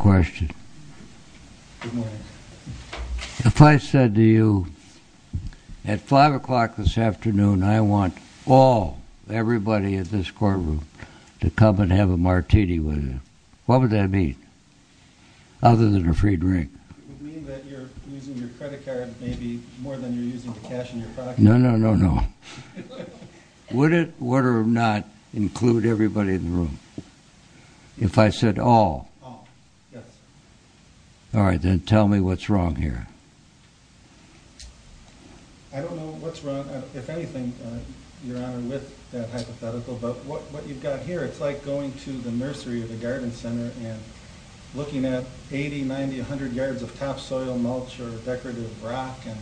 Good morning. If I said to you at 5 o'clock this afternoon I want all, everybody in this courtroom to come and have a martini with you, what would that mean? Other than a free drink. It would mean that you're using your credit card maybe more than you're using the cash in your pocket. No, no, no, no. Would it or would it not include everybody in the room? If I said all. All right, then tell me what's wrong here. I don't know what's wrong, if anything, Your Honor, with that hypothetical, but what you've got here, it's like going to the nursery or the garden center and looking at 80, 90, 100 yards of topsoil, mulch, or decorative rock and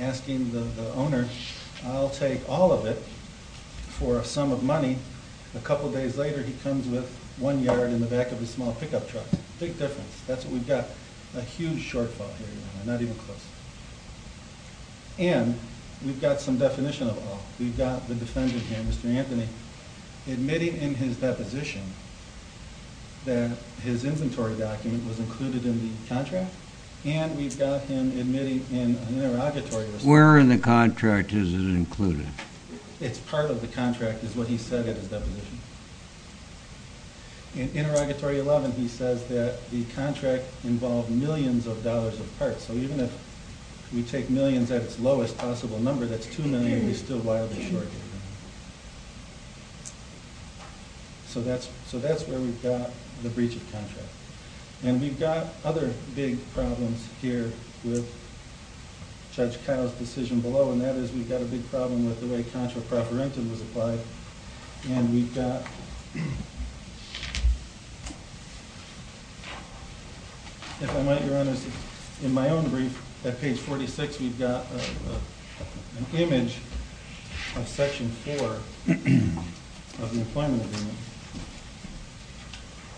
asking the owner, I'll take all of it for a sum of money. A couple days later he comes with one yard in the back of his small pickup truck. Big difference. That's what we've got. A huge shortfall here, Your Honor, not even close. And we've got some definition of all. We've got the defendant here, Mr. Anthony, admitting in his deposition that his inventory document was included in the contract, and we've got him admitting in an interrogatory. Where in the contract is it included? It's part of the contract, is what he said in his deposition. In interrogatory 11, he says that the contract involved millions of dollars of parts, so even if we take millions at its lowest possible number, that's $2 million and he's still wildly short. So that's where we've got the breach of contract. And we've got other big problems here with Judge Kyle's decision below, and that is we've got a big problem with the way contra properentum was applied. And we've got, if I might, Your Honor, in my own brief, at page 46, we've got an image of Section 4 of the Employment Agreement.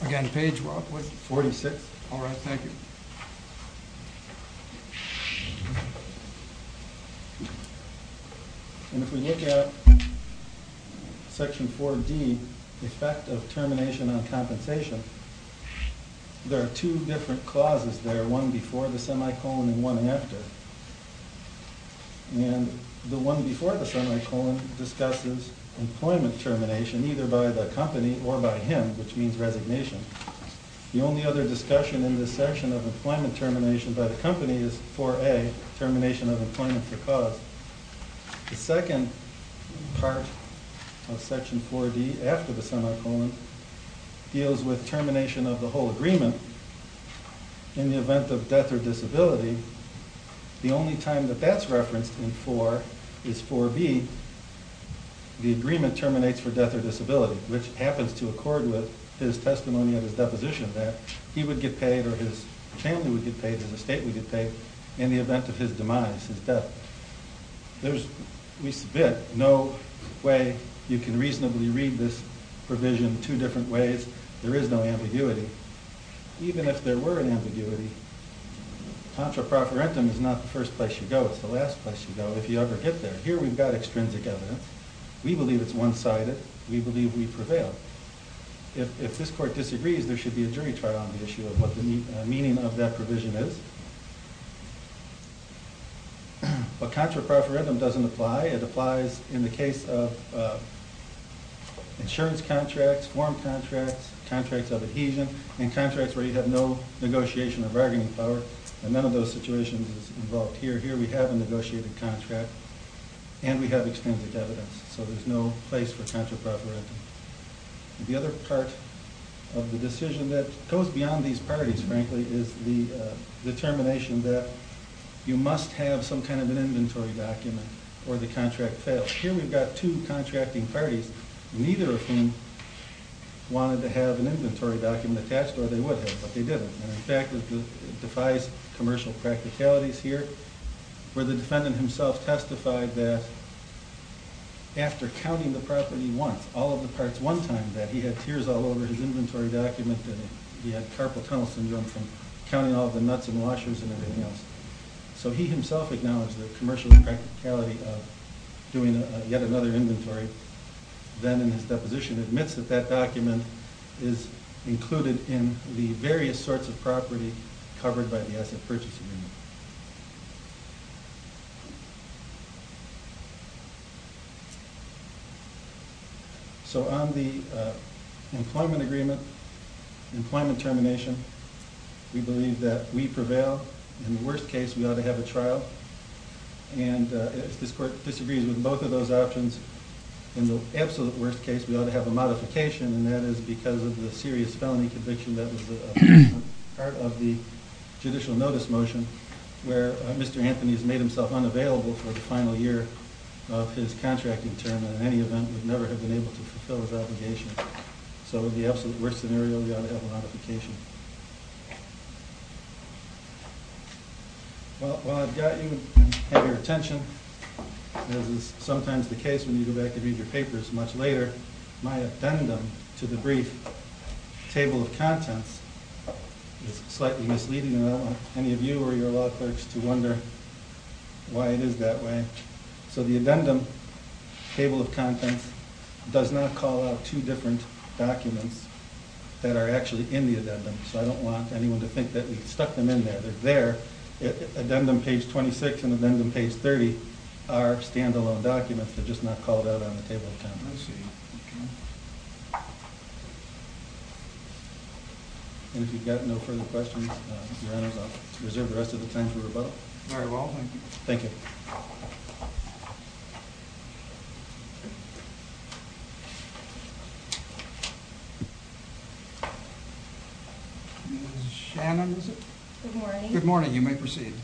Again, page what? 46. All right, thank you. And if we look at Section 4D, effect of termination on compensation, there are two different clauses there, one before the semicolon and one after. And the one before the semicolon discusses employment termination, either by the company or by him, which means resignation. The only other discussion in this section of employment termination by the company is 4A, termination of employment for cause. The second part of Section 4D after the semicolon deals with termination of the whole agreement in the event of death or disability. The only time that that's referenced in 4 is 4B, the agreement terminates for death or disability, which happens to accord with his testimony of his deposition that he would get paid or his family would get paid, his estate would get paid, in the event of his demise, his death. There's, we submit, no way you can reasonably read this provision two different ways. There is no ambiguity. Even if there were an ambiguity, contraproferendum is not the first place you go, it's the last place you go if you ever get there. Here we've got extrinsic evidence. We believe it's one-sided. We believe we prevail. If this court disagrees, there should be a jury trial on the issue of what the meaning of that provision is. But contraproferendum doesn't apply. It applies in the case of insurance contracts, form contracts, contracts of adhesion, and contracts where you have no negotiation or bargaining power. And none of those situations is involved here. Here we have a negotiated contract and we have extrinsic evidence. So there's no place for contraproferendum. The other part of the decision that goes beyond these parties, frankly, is the determination that you must have some kind of an inventory document or the contract fails. Here we've got two contracting parties, neither of whom wanted to have an inventory document attached or they would have, but they didn't. And in fact, it defies commercial practicalities here where the defendant himself testified that after counting the property once, all of the parts one time, that he had tears all over his inventory document, that he had carpal tunnel syndrome from counting all the nuts and washers and everything else. So he himself acknowledged the commercial practicality of doing yet another inventory. Then in his deposition admits that that document is included in the various sorts of property covered by the asset purchase agreement. So on the employment agreement, employment termination, we believe that we prevail. In the worst case, we ought to have a trial. And if this court disagrees with both of those options, in the absolute worst case, we ought to have a modification. And that is because of the serious felony conviction that was part of the judicial notice motion where Mr. Anthony has made himself unavailable for the final year of his contracting term. And in any event, would never have been able to fulfill his obligation. So the absolute worst scenario, we ought to have a modification. Well, while I've gotten your attention, as is sometimes the case when you go back and read your papers much later, my addendum to the brief table of contents is slightly misleading. I don't want any of you or your law clerks to wonder why it is that way. So the addendum table of contents does not call out two different documents that are actually in the addendum. So I don't want anyone to think that we stuck them in there. They're there. Addendum page 26 and addendum page 30 are standalone documents. They're just not called out on the table of contents. And if you've got no further questions, your honors, I'll reserve the rest of the time for rebuttal. Very well, thank you. Thank you. Thank you. Ms. Shannon, is it? Good morning. Good morning. You may proceed.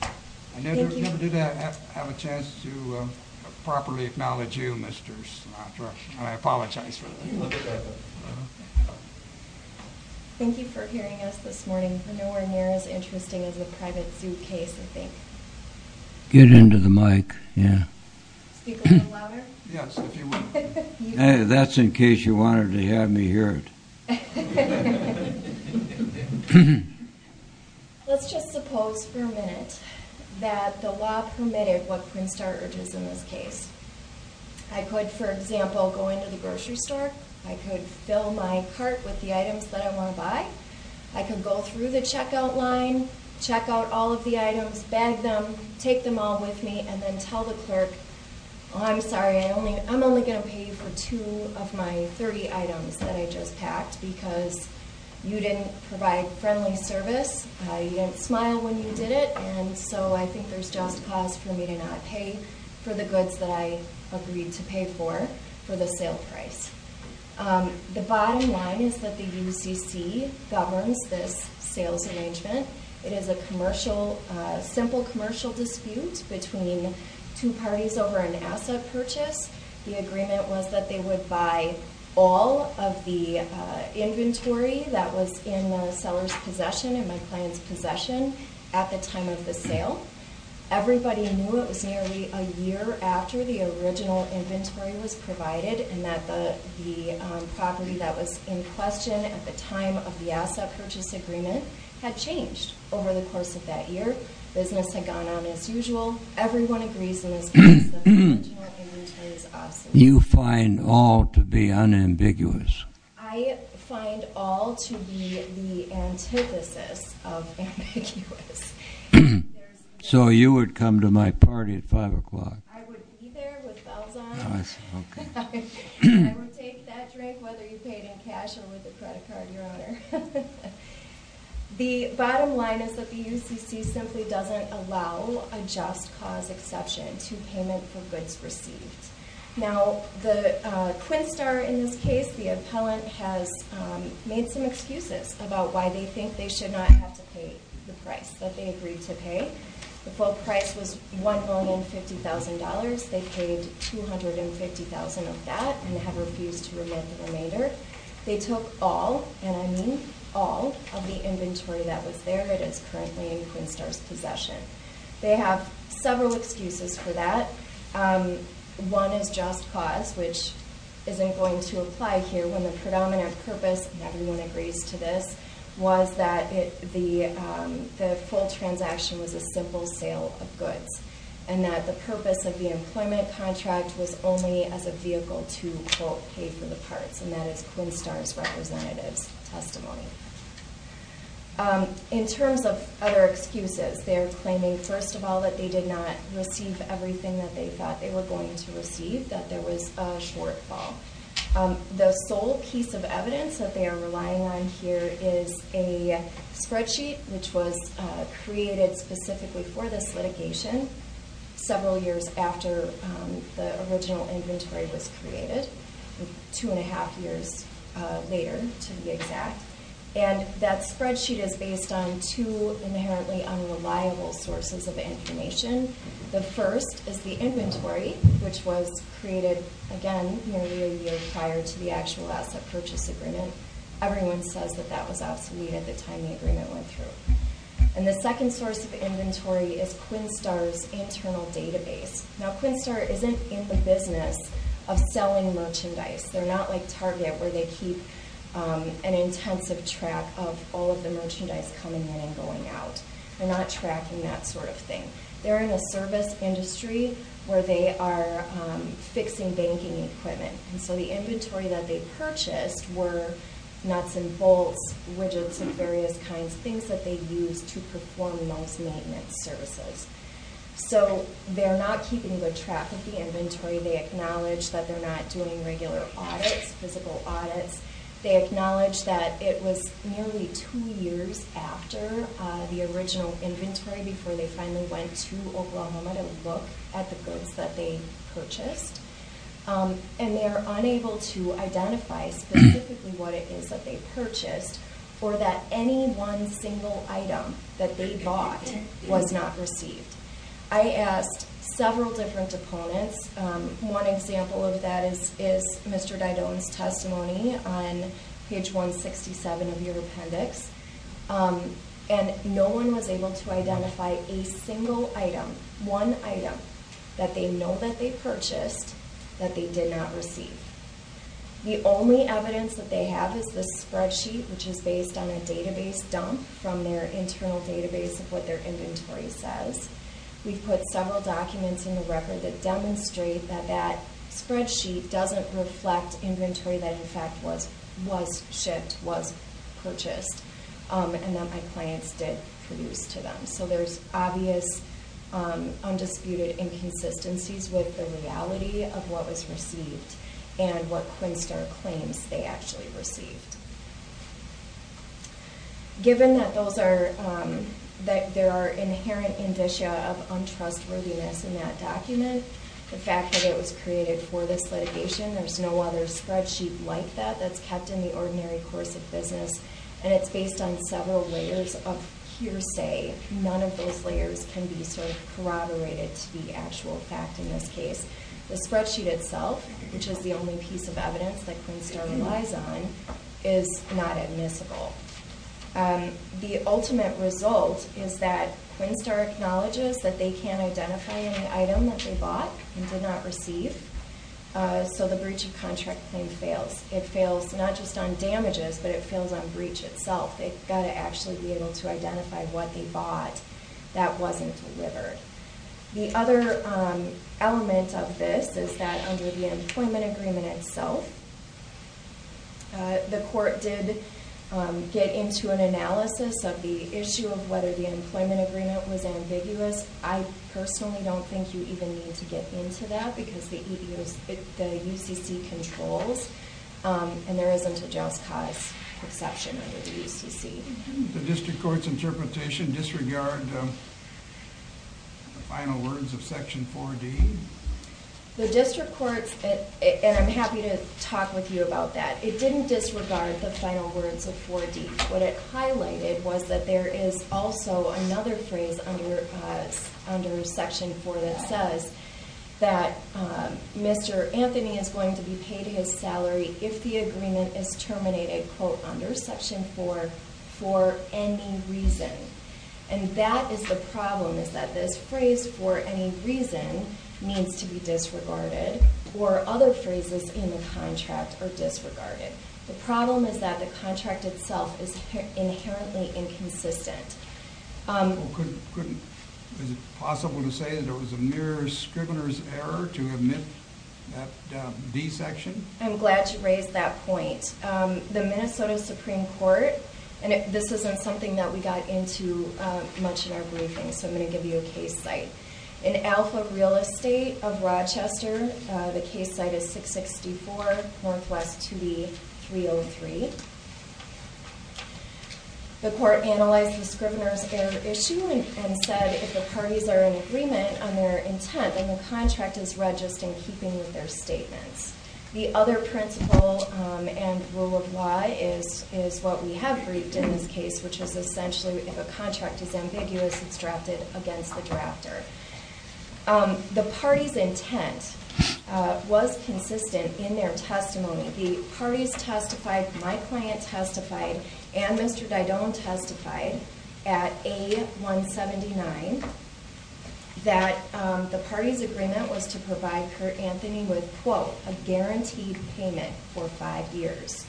Thank you. I never did have a chance to properly acknowledge you, Mr. Smatra, and I apologize for that. Thank you for hearing us this morning. It's nowhere near as interesting as a private suitcase, I think. Get into the mic, yeah. Speak a little louder? Yes, if you want. That's in case you wanted to have me hear it. Let's just suppose for a minute that the law permitted what Prince George is in this case. I could, for example, go into the grocery store. I could fill my cart with the items that I want to buy. I could go through the checkout line, check out all of the items, bag them, take them all with me, and then tell the clerk, I'm sorry, I'm only going to pay you for two of my 30 items that I just packed because you didn't provide friendly service, you didn't smile when you did it, and so I think there's just cause for me to not pay for the goods that I agreed to pay for, for the sale price. The bottom line is that the UCC governs this sales arrangement. It is a simple commercial dispute between two parties over an asset purchase. The agreement was that they would buy all of the inventory that was in the seller's possession and my client's possession at the time of the sale. Everybody knew it was nearly a year after the original inventory was provided and that the property that was in question at the time of the asset purchase agreement had changed over the course of that year. Business had gone on as usual. Everyone agrees in this case that the original inventory is obsolete. You find all to be unambiguous. I find all to be the antithesis of ambiguous. So you would come to my party at 5 o'clock? I would be there with bells on. I would take that drink, whether you paid in cash or with a credit card, Your Honor. The bottom line is that the UCC simply doesn't allow a just cause exception to payment for goods received. Now, the Quinstar in this case, the appellant has made some excuses about why they think they should not have to pay the price that they agreed to pay. The full price was $1,050,000. They paid $250,000 of that and have refused to remit the remainder. They took all, and I mean all, of the inventory that was there that is currently in Quinstar's possession. They have several excuses for that. One is just cause, which isn't going to apply here when the predominant purpose, and everyone agrees to this, was that the full transaction was a simple sale of goods and that the purpose of the employment contract was only as a vehicle to, quote, pay for the parts, and that is Quinstar's representative's testimony. In terms of other excuses, they are claiming, first of all, that they did not receive everything that they thought they were going to receive, that there was a shortfall. The sole piece of evidence that they are relying on here is a spreadsheet, which was created specifically for this litigation several years after the original inventory was created, two and a half years later, to be exact, and that spreadsheet is based on two inherently unreliable sources of information. The first is the inventory, which was created, again, nearly a year prior to the actual asset purchase agreement. Everyone says that that was obsolete at the time the agreement went through. And the second source of inventory is Quinstar's internal database. Now, Quinstar isn't in the business of selling merchandise. They're not like Target, where they keep an intensive track of all of the merchandise coming in and going out. They're not tracking that sort of thing. They're in a service industry where they are fixing banking equipment. And so the inventory that they purchased were nuts and bolts, widgets of various kinds, things that they used to perform those maintenance services. So they're not keeping good track of the inventory. They acknowledge that they're not doing regular audits, physical audits. They acknowledge that it was nearly two years after the original inventory before they finally went to Oklahoma to look at the goods that they purchased. And they are unable to identify specifically what it is that they purchased or that any one single item that they bought was not received. I asked several different opponents. One example of that is Mr. Didoan's testimony on page 167 of your appendix. And no one was able to identify a single item, one item, that they know that they purchased that they did not receive. The only evidence that they have is the spreadsheet, which is based on a database dump from their internal database of what their inventory says. We've put several documents in the record that demonstrate that that spreadsheet doesn't reflect inventory that in fact was shipped, was purchased, and that my clients did produce to them. So there's obvious, undisputed inconsistencies with the reality of what was received and what Quinnstar claims they actually received. Given that there are inherent indicia of untrustworthiness in that document, the fact that it was created for this litigation, there's no other spreadsheet like that that's kept in the ordinary course of business. And it's based on several layers of hearsay. None of those layers can be corroborated to the actual fact in this case. The spreadsheet itself, which is the only piece of evidence that Quinnstar relies on, is not admissible. The ultimate result is that Quinnstar acknowledges that they can't identify any item that they bought and did not receive. So the breach of contract claim fails. It fails not just on damages, but it fails on breach itself. They've got to actually be able to identify what they bought that wasn't delivered. The other element of this is that under the employment agreement itself, the court did get into an analysis of the issue of whether the employment agreement was ambiguous. I personally don't think you even need to get into that because the UCC controls, and there isn't a just cause exception under the UCC. The district court's interpretation disregarded the final words of Section 4D? The district court, and I'm happy to talk with you about that, it didn't disregard the final words of 4D. What it highlighted was that there is also another phrase under Section 4 that says that Mr. Anthony is going to be paid his salary if the agreement is terminated, quote, under Section 4, for any reason. And that is the problem, is that this phrase, for any reason, means to be disregarded, or other phrases in the contract are disregarded. The problem is that the contract itself is inherently inconsistent. Is it possible to say that it was a mere scrivener's error to omit that D section? I'm glad to raise that point. The Minnesota Supreme Court, and this isn't something that we got into much in our briefing, so I'm going to give you a case site. In Alpha Real Estate of Rochester, the case site is 664 Northwest 2E 303. The court analyzed the scrivener's error issue and said if the parties are in agreement on their intent, then the contract is read just in keeping with their statements. The other principle and rule of law is what we have briefed in this case, which is essentially if a contract is ambiguous, it's drafted against the drafter. The party's intent was consistent in their testimony. The parties testified, my client testified, and Mr. Didon testified at A179, that the party's agreement was to provide Kurt Anthony with, quote, a guaranteed payment for five years.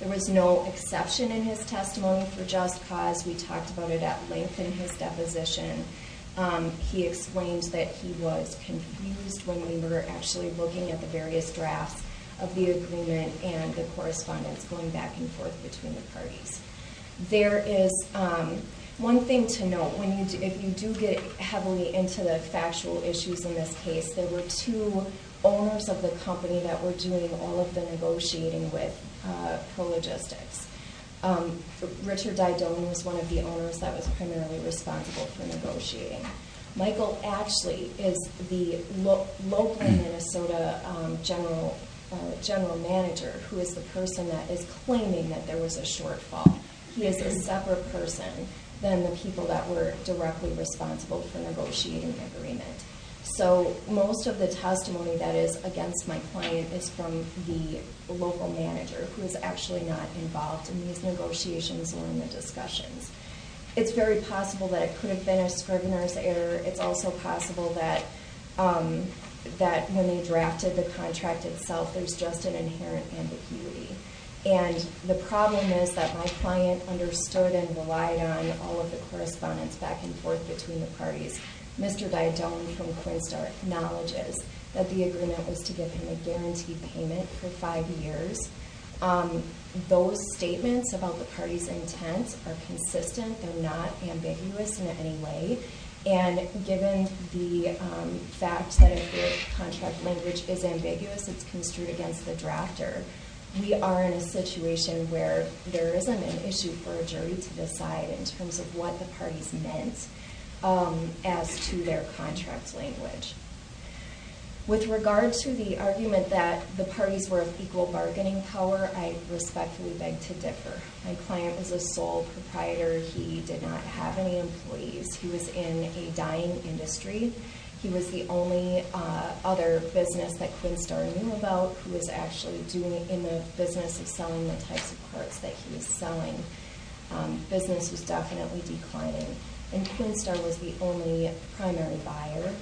There was no exception in his testimony for just cause. We talked about it at length in his deposition. He explained that he was confused when we were actually looking at the various drafts of the agreement and the correspondence going back and forth between the parties. There is one thing to note. If you do get heavily into the factual issues in this case, there were two owners of the company that were doing all of the negotiating with ProLogistics. Richard Didon was one of the owners that was primarily responsible for negotiating. Michael Ashley is the local Minnesota general manager who is the person that is claiming that there was a shortfall. He is a separate person than the people that were directly responsible for negotiating the agreement. So most of the testimony that is against my client is from the local manager who is actually not involved in these negotiations or in the discussions. It's very possible that it could have been a scrivener's error. It's also possible that when they drafted the contract itself, there's just an inherent ambiguity. And the problem is that my client understood and relied on all of the correspondence back and forth between the parties. Mr. Didon from Quinnstar acknowledges that the agreement was to give him a guaranteed payment for five years. Those statements about the parties' intents are consistent. They're not ambiguous in any way. And given the fact that if the contract language is ambiguous, it's construed against the drafter, we are in a situation where there isn't an issue for a jury to decide in terms of what the parties meant as to their contract language. With regard to the argument that the parties were of equal bargaining power, I respectfully beg to differ. My client is a sole proprietor. He did not have any employees. He was in a dying industry. He was the only other business that Quinnstar knew about who was actually in the business of selling the types of cards that he was selling. The business was definitely declining. And Quinnstar was the only primary buyer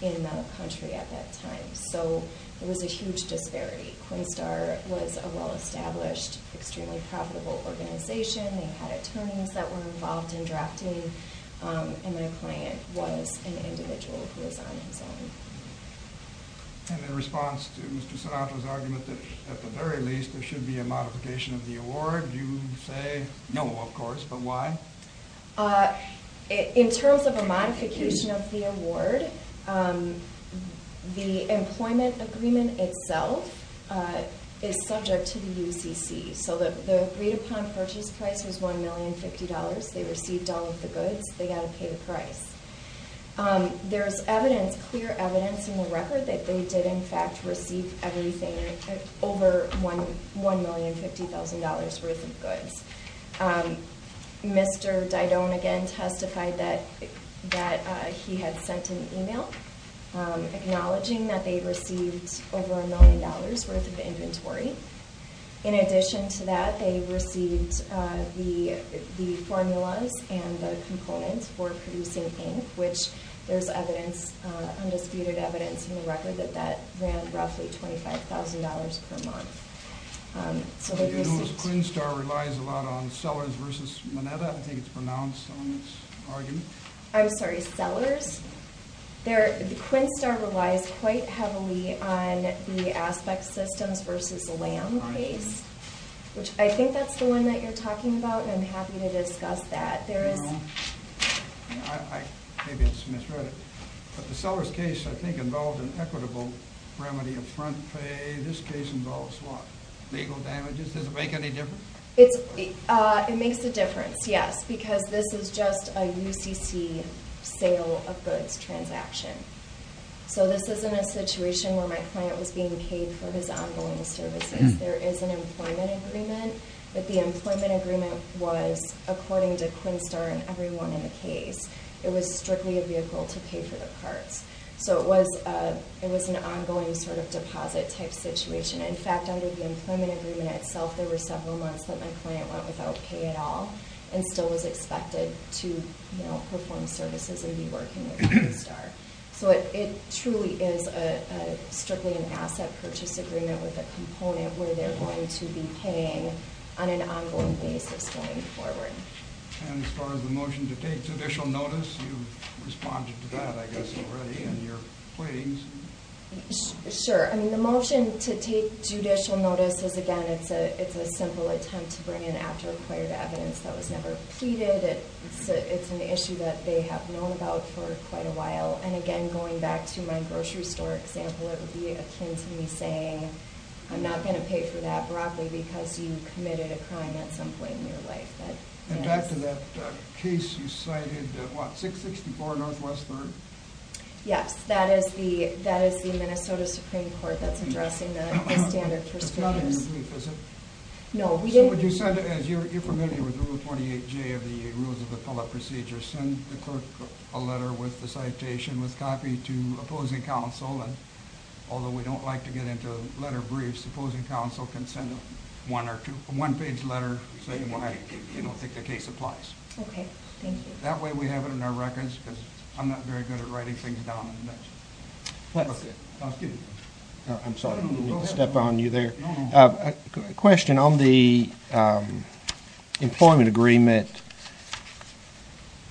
in the country at that time. So there was a huge disparity. Quinnstar was a well-established, extremely profitable organization. They had attorneys that were involved in drafting. And my client was an individual who was on his own. And in response to Mr. Sinatra's argument that at the very least there should be a modification of the award, you say no, of course. But why? In terms of a modification of the award, the employment agreement itself is subject to the UCC. So the agreed-upon purchase price was $1,050,000. They received all of the goods. They got to pay the price. There's evidence, clear evidence in the record that they did in fact receive everything, over $1,050,000 worth of goods. Mr. Didone again testified that he had sent an email acknowledging that they received over $1,000,000 worth of inventory. In addition to that, they received the formulas and the components for producing ink, which there's undisputed evidence in the record that that ran roughly $25,000 per month. So the U.S. Quinnstar relies a lot on Sellers v. Mineta. I think it's pronounced on this argument. I'm sorry, Sellers? The Quinnstar relies quite heavily on the Aspect Systems v. Lamb case, which I think that's the one that you're talking about, and I'm happy to discuss that. Maybe it's misread it, but the Sellers case I think involved an equitable remedy of front pay. This case involves what, legal damages? Does it make any difference? It makes a difference, yes, because this is just a UCC sale of goods transaction. So this isn't a situation where my client was being paid for his ongoing services. There is an employment agreement, but the employment agreement was, according to Quinnstar and everyone in the case, it was strictly a vehicle to pay for the parts. So it was an ongoing sort of deposit type situation. In fact, under the employment agreement itself, there were several months that my client went without pay at all and still was expected to perform services and be working with Quinnstar. So it truly is strictly an asset purchase agreement with a component where they're going to be paying on an ongoing basis going forward. And as far as the motion to take judicial notice, you've responded to that, I guess, already in your pleadings. Sure. I mean, the motion to take judicial notice is, again, it's a simple attempt to bring in after acquired evidence that was never pleaded. It's an issue that they have known about for quite a while. And again, going back to my grocery store example, it would be akin to me saying, I'm not going to pay for that broccoli because you committed a crime at some point in your life. And back to that case you cited, what, 664 Northwest 3rd? Yes, that is the Minnesota Supreme Court that's addressing the standard for speakers. No, we didn't. But you said, as you're familiar with Rule 28J of the Rules of Appellate Procedure, send the clerk a letter with the citation with copy to opposing counsel. And although we don't like to get into letter briefs, opposing counsel can send a one-page letter saying why they don't think the case applies. Okay, thank you. That way we have it in our records because I'm not very good at writing things down. I'm sorry, I didn't mean to step on you there. A question on the employment agreement.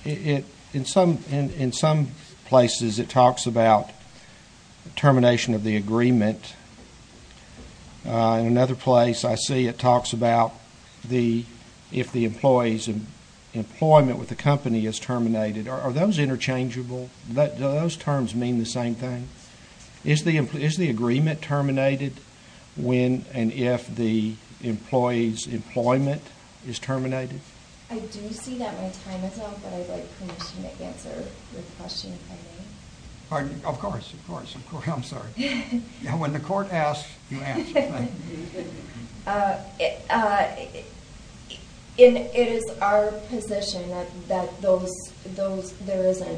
In some places it talks about termination of the agreement. In another place I see it talks about if the employee's employment with the company is terminated. Are those interchangeable? Do those terms mean the same thing? Is the agreement terminated when and if the employee's employment is terminated? I do see that my time is up, but I'd like permission to answer your question, if I may. Of course, of course, I'm sorry. When the court asks, you answer. It is our position that there is a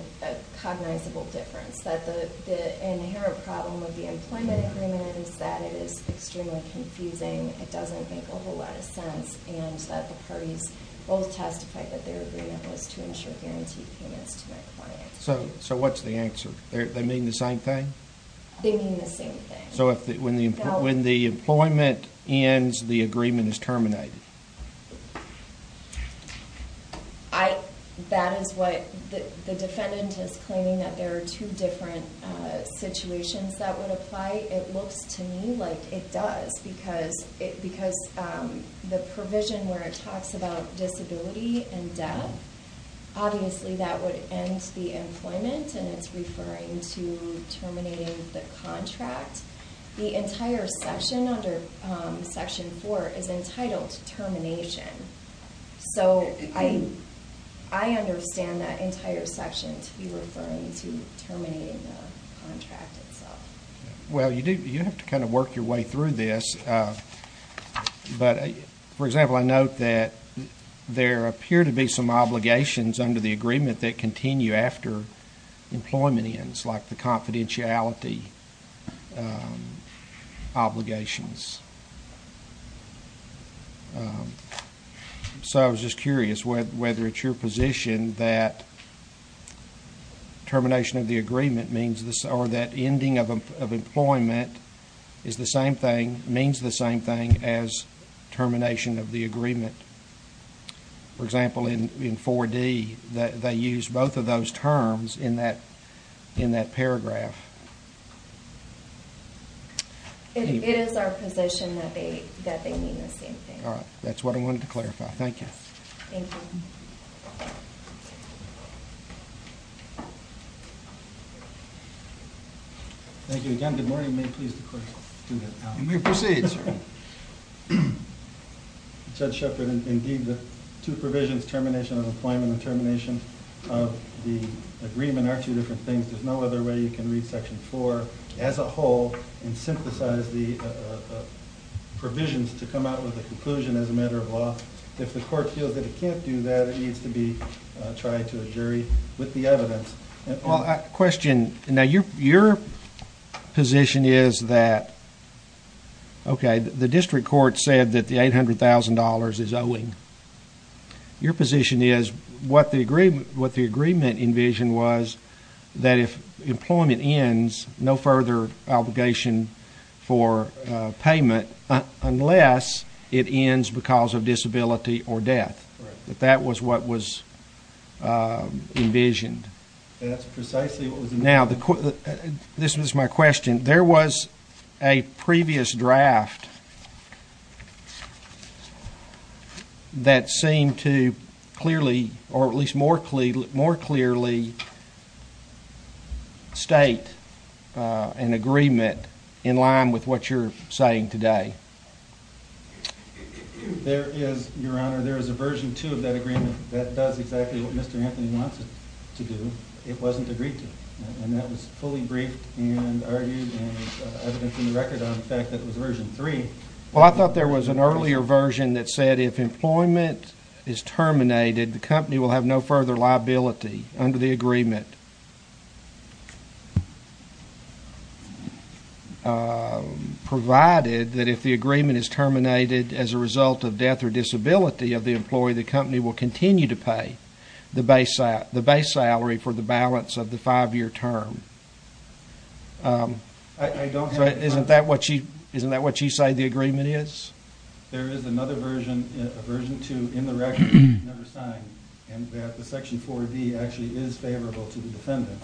cognizable difference, that the inherent problem of the employment agreement is that it is extremely confusing, it doesn't make a whole lot of sense, and that the parties both testified that their agreement was to ensure guaranteed payments to my client. So what's the answer? They mean the same thing? They mean the same thing. So when the employment ends, the agreement is terminated? That is what the defendant is claiming, that there are two different situations that would apply. It looks to me like it does, because the provision where it talks about disability and death, obviously that would end the employment, and it's referring to terminating the contract. The entire section under Section 4 is entitled termination. So I understand that entire section to be referring to terminating the contract itself. Well, you do have to kind of work your way through this. But, for example, I note that there appear to be some obligations under the agreement that continue after employment ends, like the confidentiality obligations. So I was just curious whether it's your position that termination of the agreement means this, or that ending of employment means the same thing as termination of the agreement. For example, in 4D, they use both of those terms in that paragraph. It is our position that they mean the same thing. All right. That's what I wanted to clarify. Thank you. Thank you. Thank you again. Good morning. May it please the Court. You may proceed, sir. Judge Shepard, indeed the two provisions, termination of employment and termination of the agreement, are two different things. There's no other way you can read Section 4 as a whole and synthesize the provisions to come out with a conclusion as a matter of law. If the Court feels that it can't do that, it needs to be tried to a jury with the evidence. Well, question, now your position is that, okay, the district court said that the $800,000 is owing. Your position is what the agreement envisioned was that if employment ends, no further obligation for payment unless it ends because of disability or death. Correct. That that was what was envisioned. That's precisely what was envisioned. Now, this was my question. There was a previous draft that seemed to clearly or at least more clearly state an agreement in line with what you're saying today. There is, your Honor, there is a Version 2 of that agreement that does exactly what Mr. Anthony wants it to do. It wasn't agreed to, and that was fully briefed and argued and evidence in the record on the fact that it was Version 3. Well, I thought there was an earlier version that said if employment is terminated, the company will have no further liability under the agreement, provided that if the agreement is terminated as a result of death or disability of the employee, the company will continue to pay the base salary for the balance of the five-year term. I don't have that. Isn't that what you say the agreement is? There is another version, a Version 2, in the record that was never signed, and that the Section 4B actually is favorable to the defendant,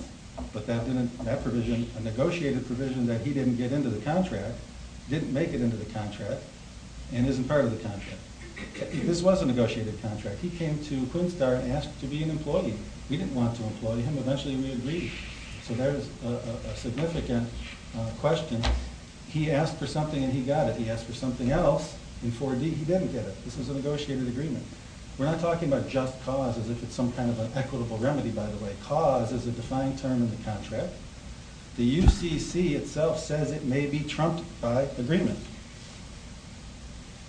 but that provision, a negotiated provision that he didn't get into the contract, didn't make it into the contract, and isn't part of the contract. This was a negotiated contract. He came to Quinnstar and asked to be an employee. We didn't want to employ him. Eventually, we agreed. So there's a significant question. He asked for something, and he got it. He asked for something else in 4D. He didn't get it. This was a negotiated agreement. We're not talking about just cause as if it's some kind of an equitable remedy, by the way. Cause is a defined term in the contract. The UCC itself says it may be trumped by agreement.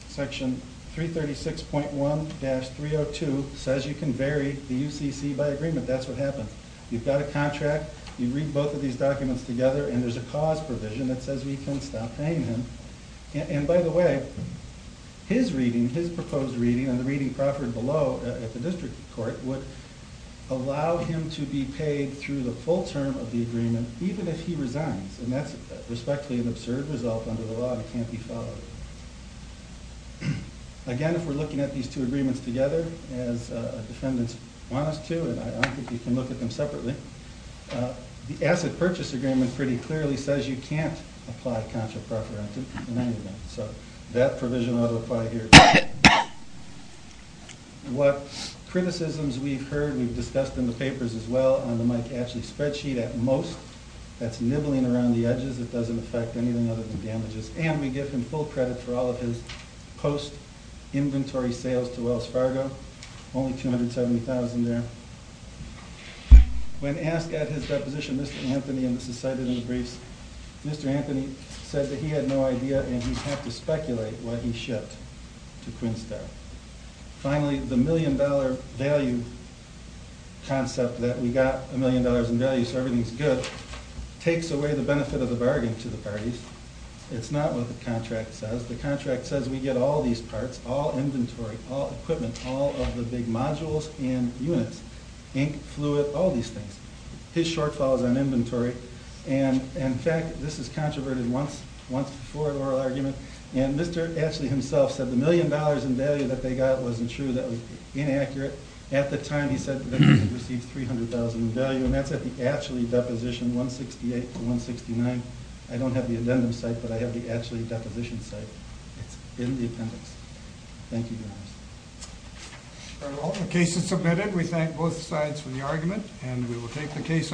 Section 336.1-302 says you can vary the UCC by agreement. That's what happened. You've got a contract. You read both of these documents together, and there's a cause provision that says we can stop paying him. And, by the way, his reading, his proposed reading, and the reading proffered below at the district court, would allow him to be paid through the full term of the agreement even if he resigns. And that's respectfully an absurd result under the law. It can't be followed. Again, if we're looking at these two agreements together, as defendants want us to, and I don't think we can look at them separately, the asset purchase agreement pretty clearly says you can't apply contra-preferenti in any of them. So that provision ought to apply here. What criticisms we've heard, we've discussed in the papers as well, on the Mike Ashley spreadsheet, at most, that's nibbling around the edges. It doesn't affect anything other than damages. And we give him full credit for all of his post-inventory sales to Wells Fargo. Only $270,000 there. When asked at his deposition, Mr. Anthony, and this is cited in the briefs, Mr. Anthony said that he had no idea and he'd have to speculate what he shipped to Quinnstown. Finally, the million-dollar value concept, that we got a million dollars in value so everything's good, takes away the benefit of the bargain to the parties. It's not what the contract says. The contract says we get all these parts, all inventory, all equipment, all of the big modules and units, ink, fluid, all these things. His shortfall is on inventory. And, in fact, this is controverted once before the oral argument, and Mr. Ashley himself said the million dollars in value that they got wasn't true, that was inaccurate. At the time, he said that they received $300,000 in value, and that's at the Ashley deposition, 168 to 169. I don't have the addendum site, but I have the Ashley deposition site. It's in the appendix. Thank you very much. All right, well, the case is submitted. We thank both sides for the argument, and we will take the case.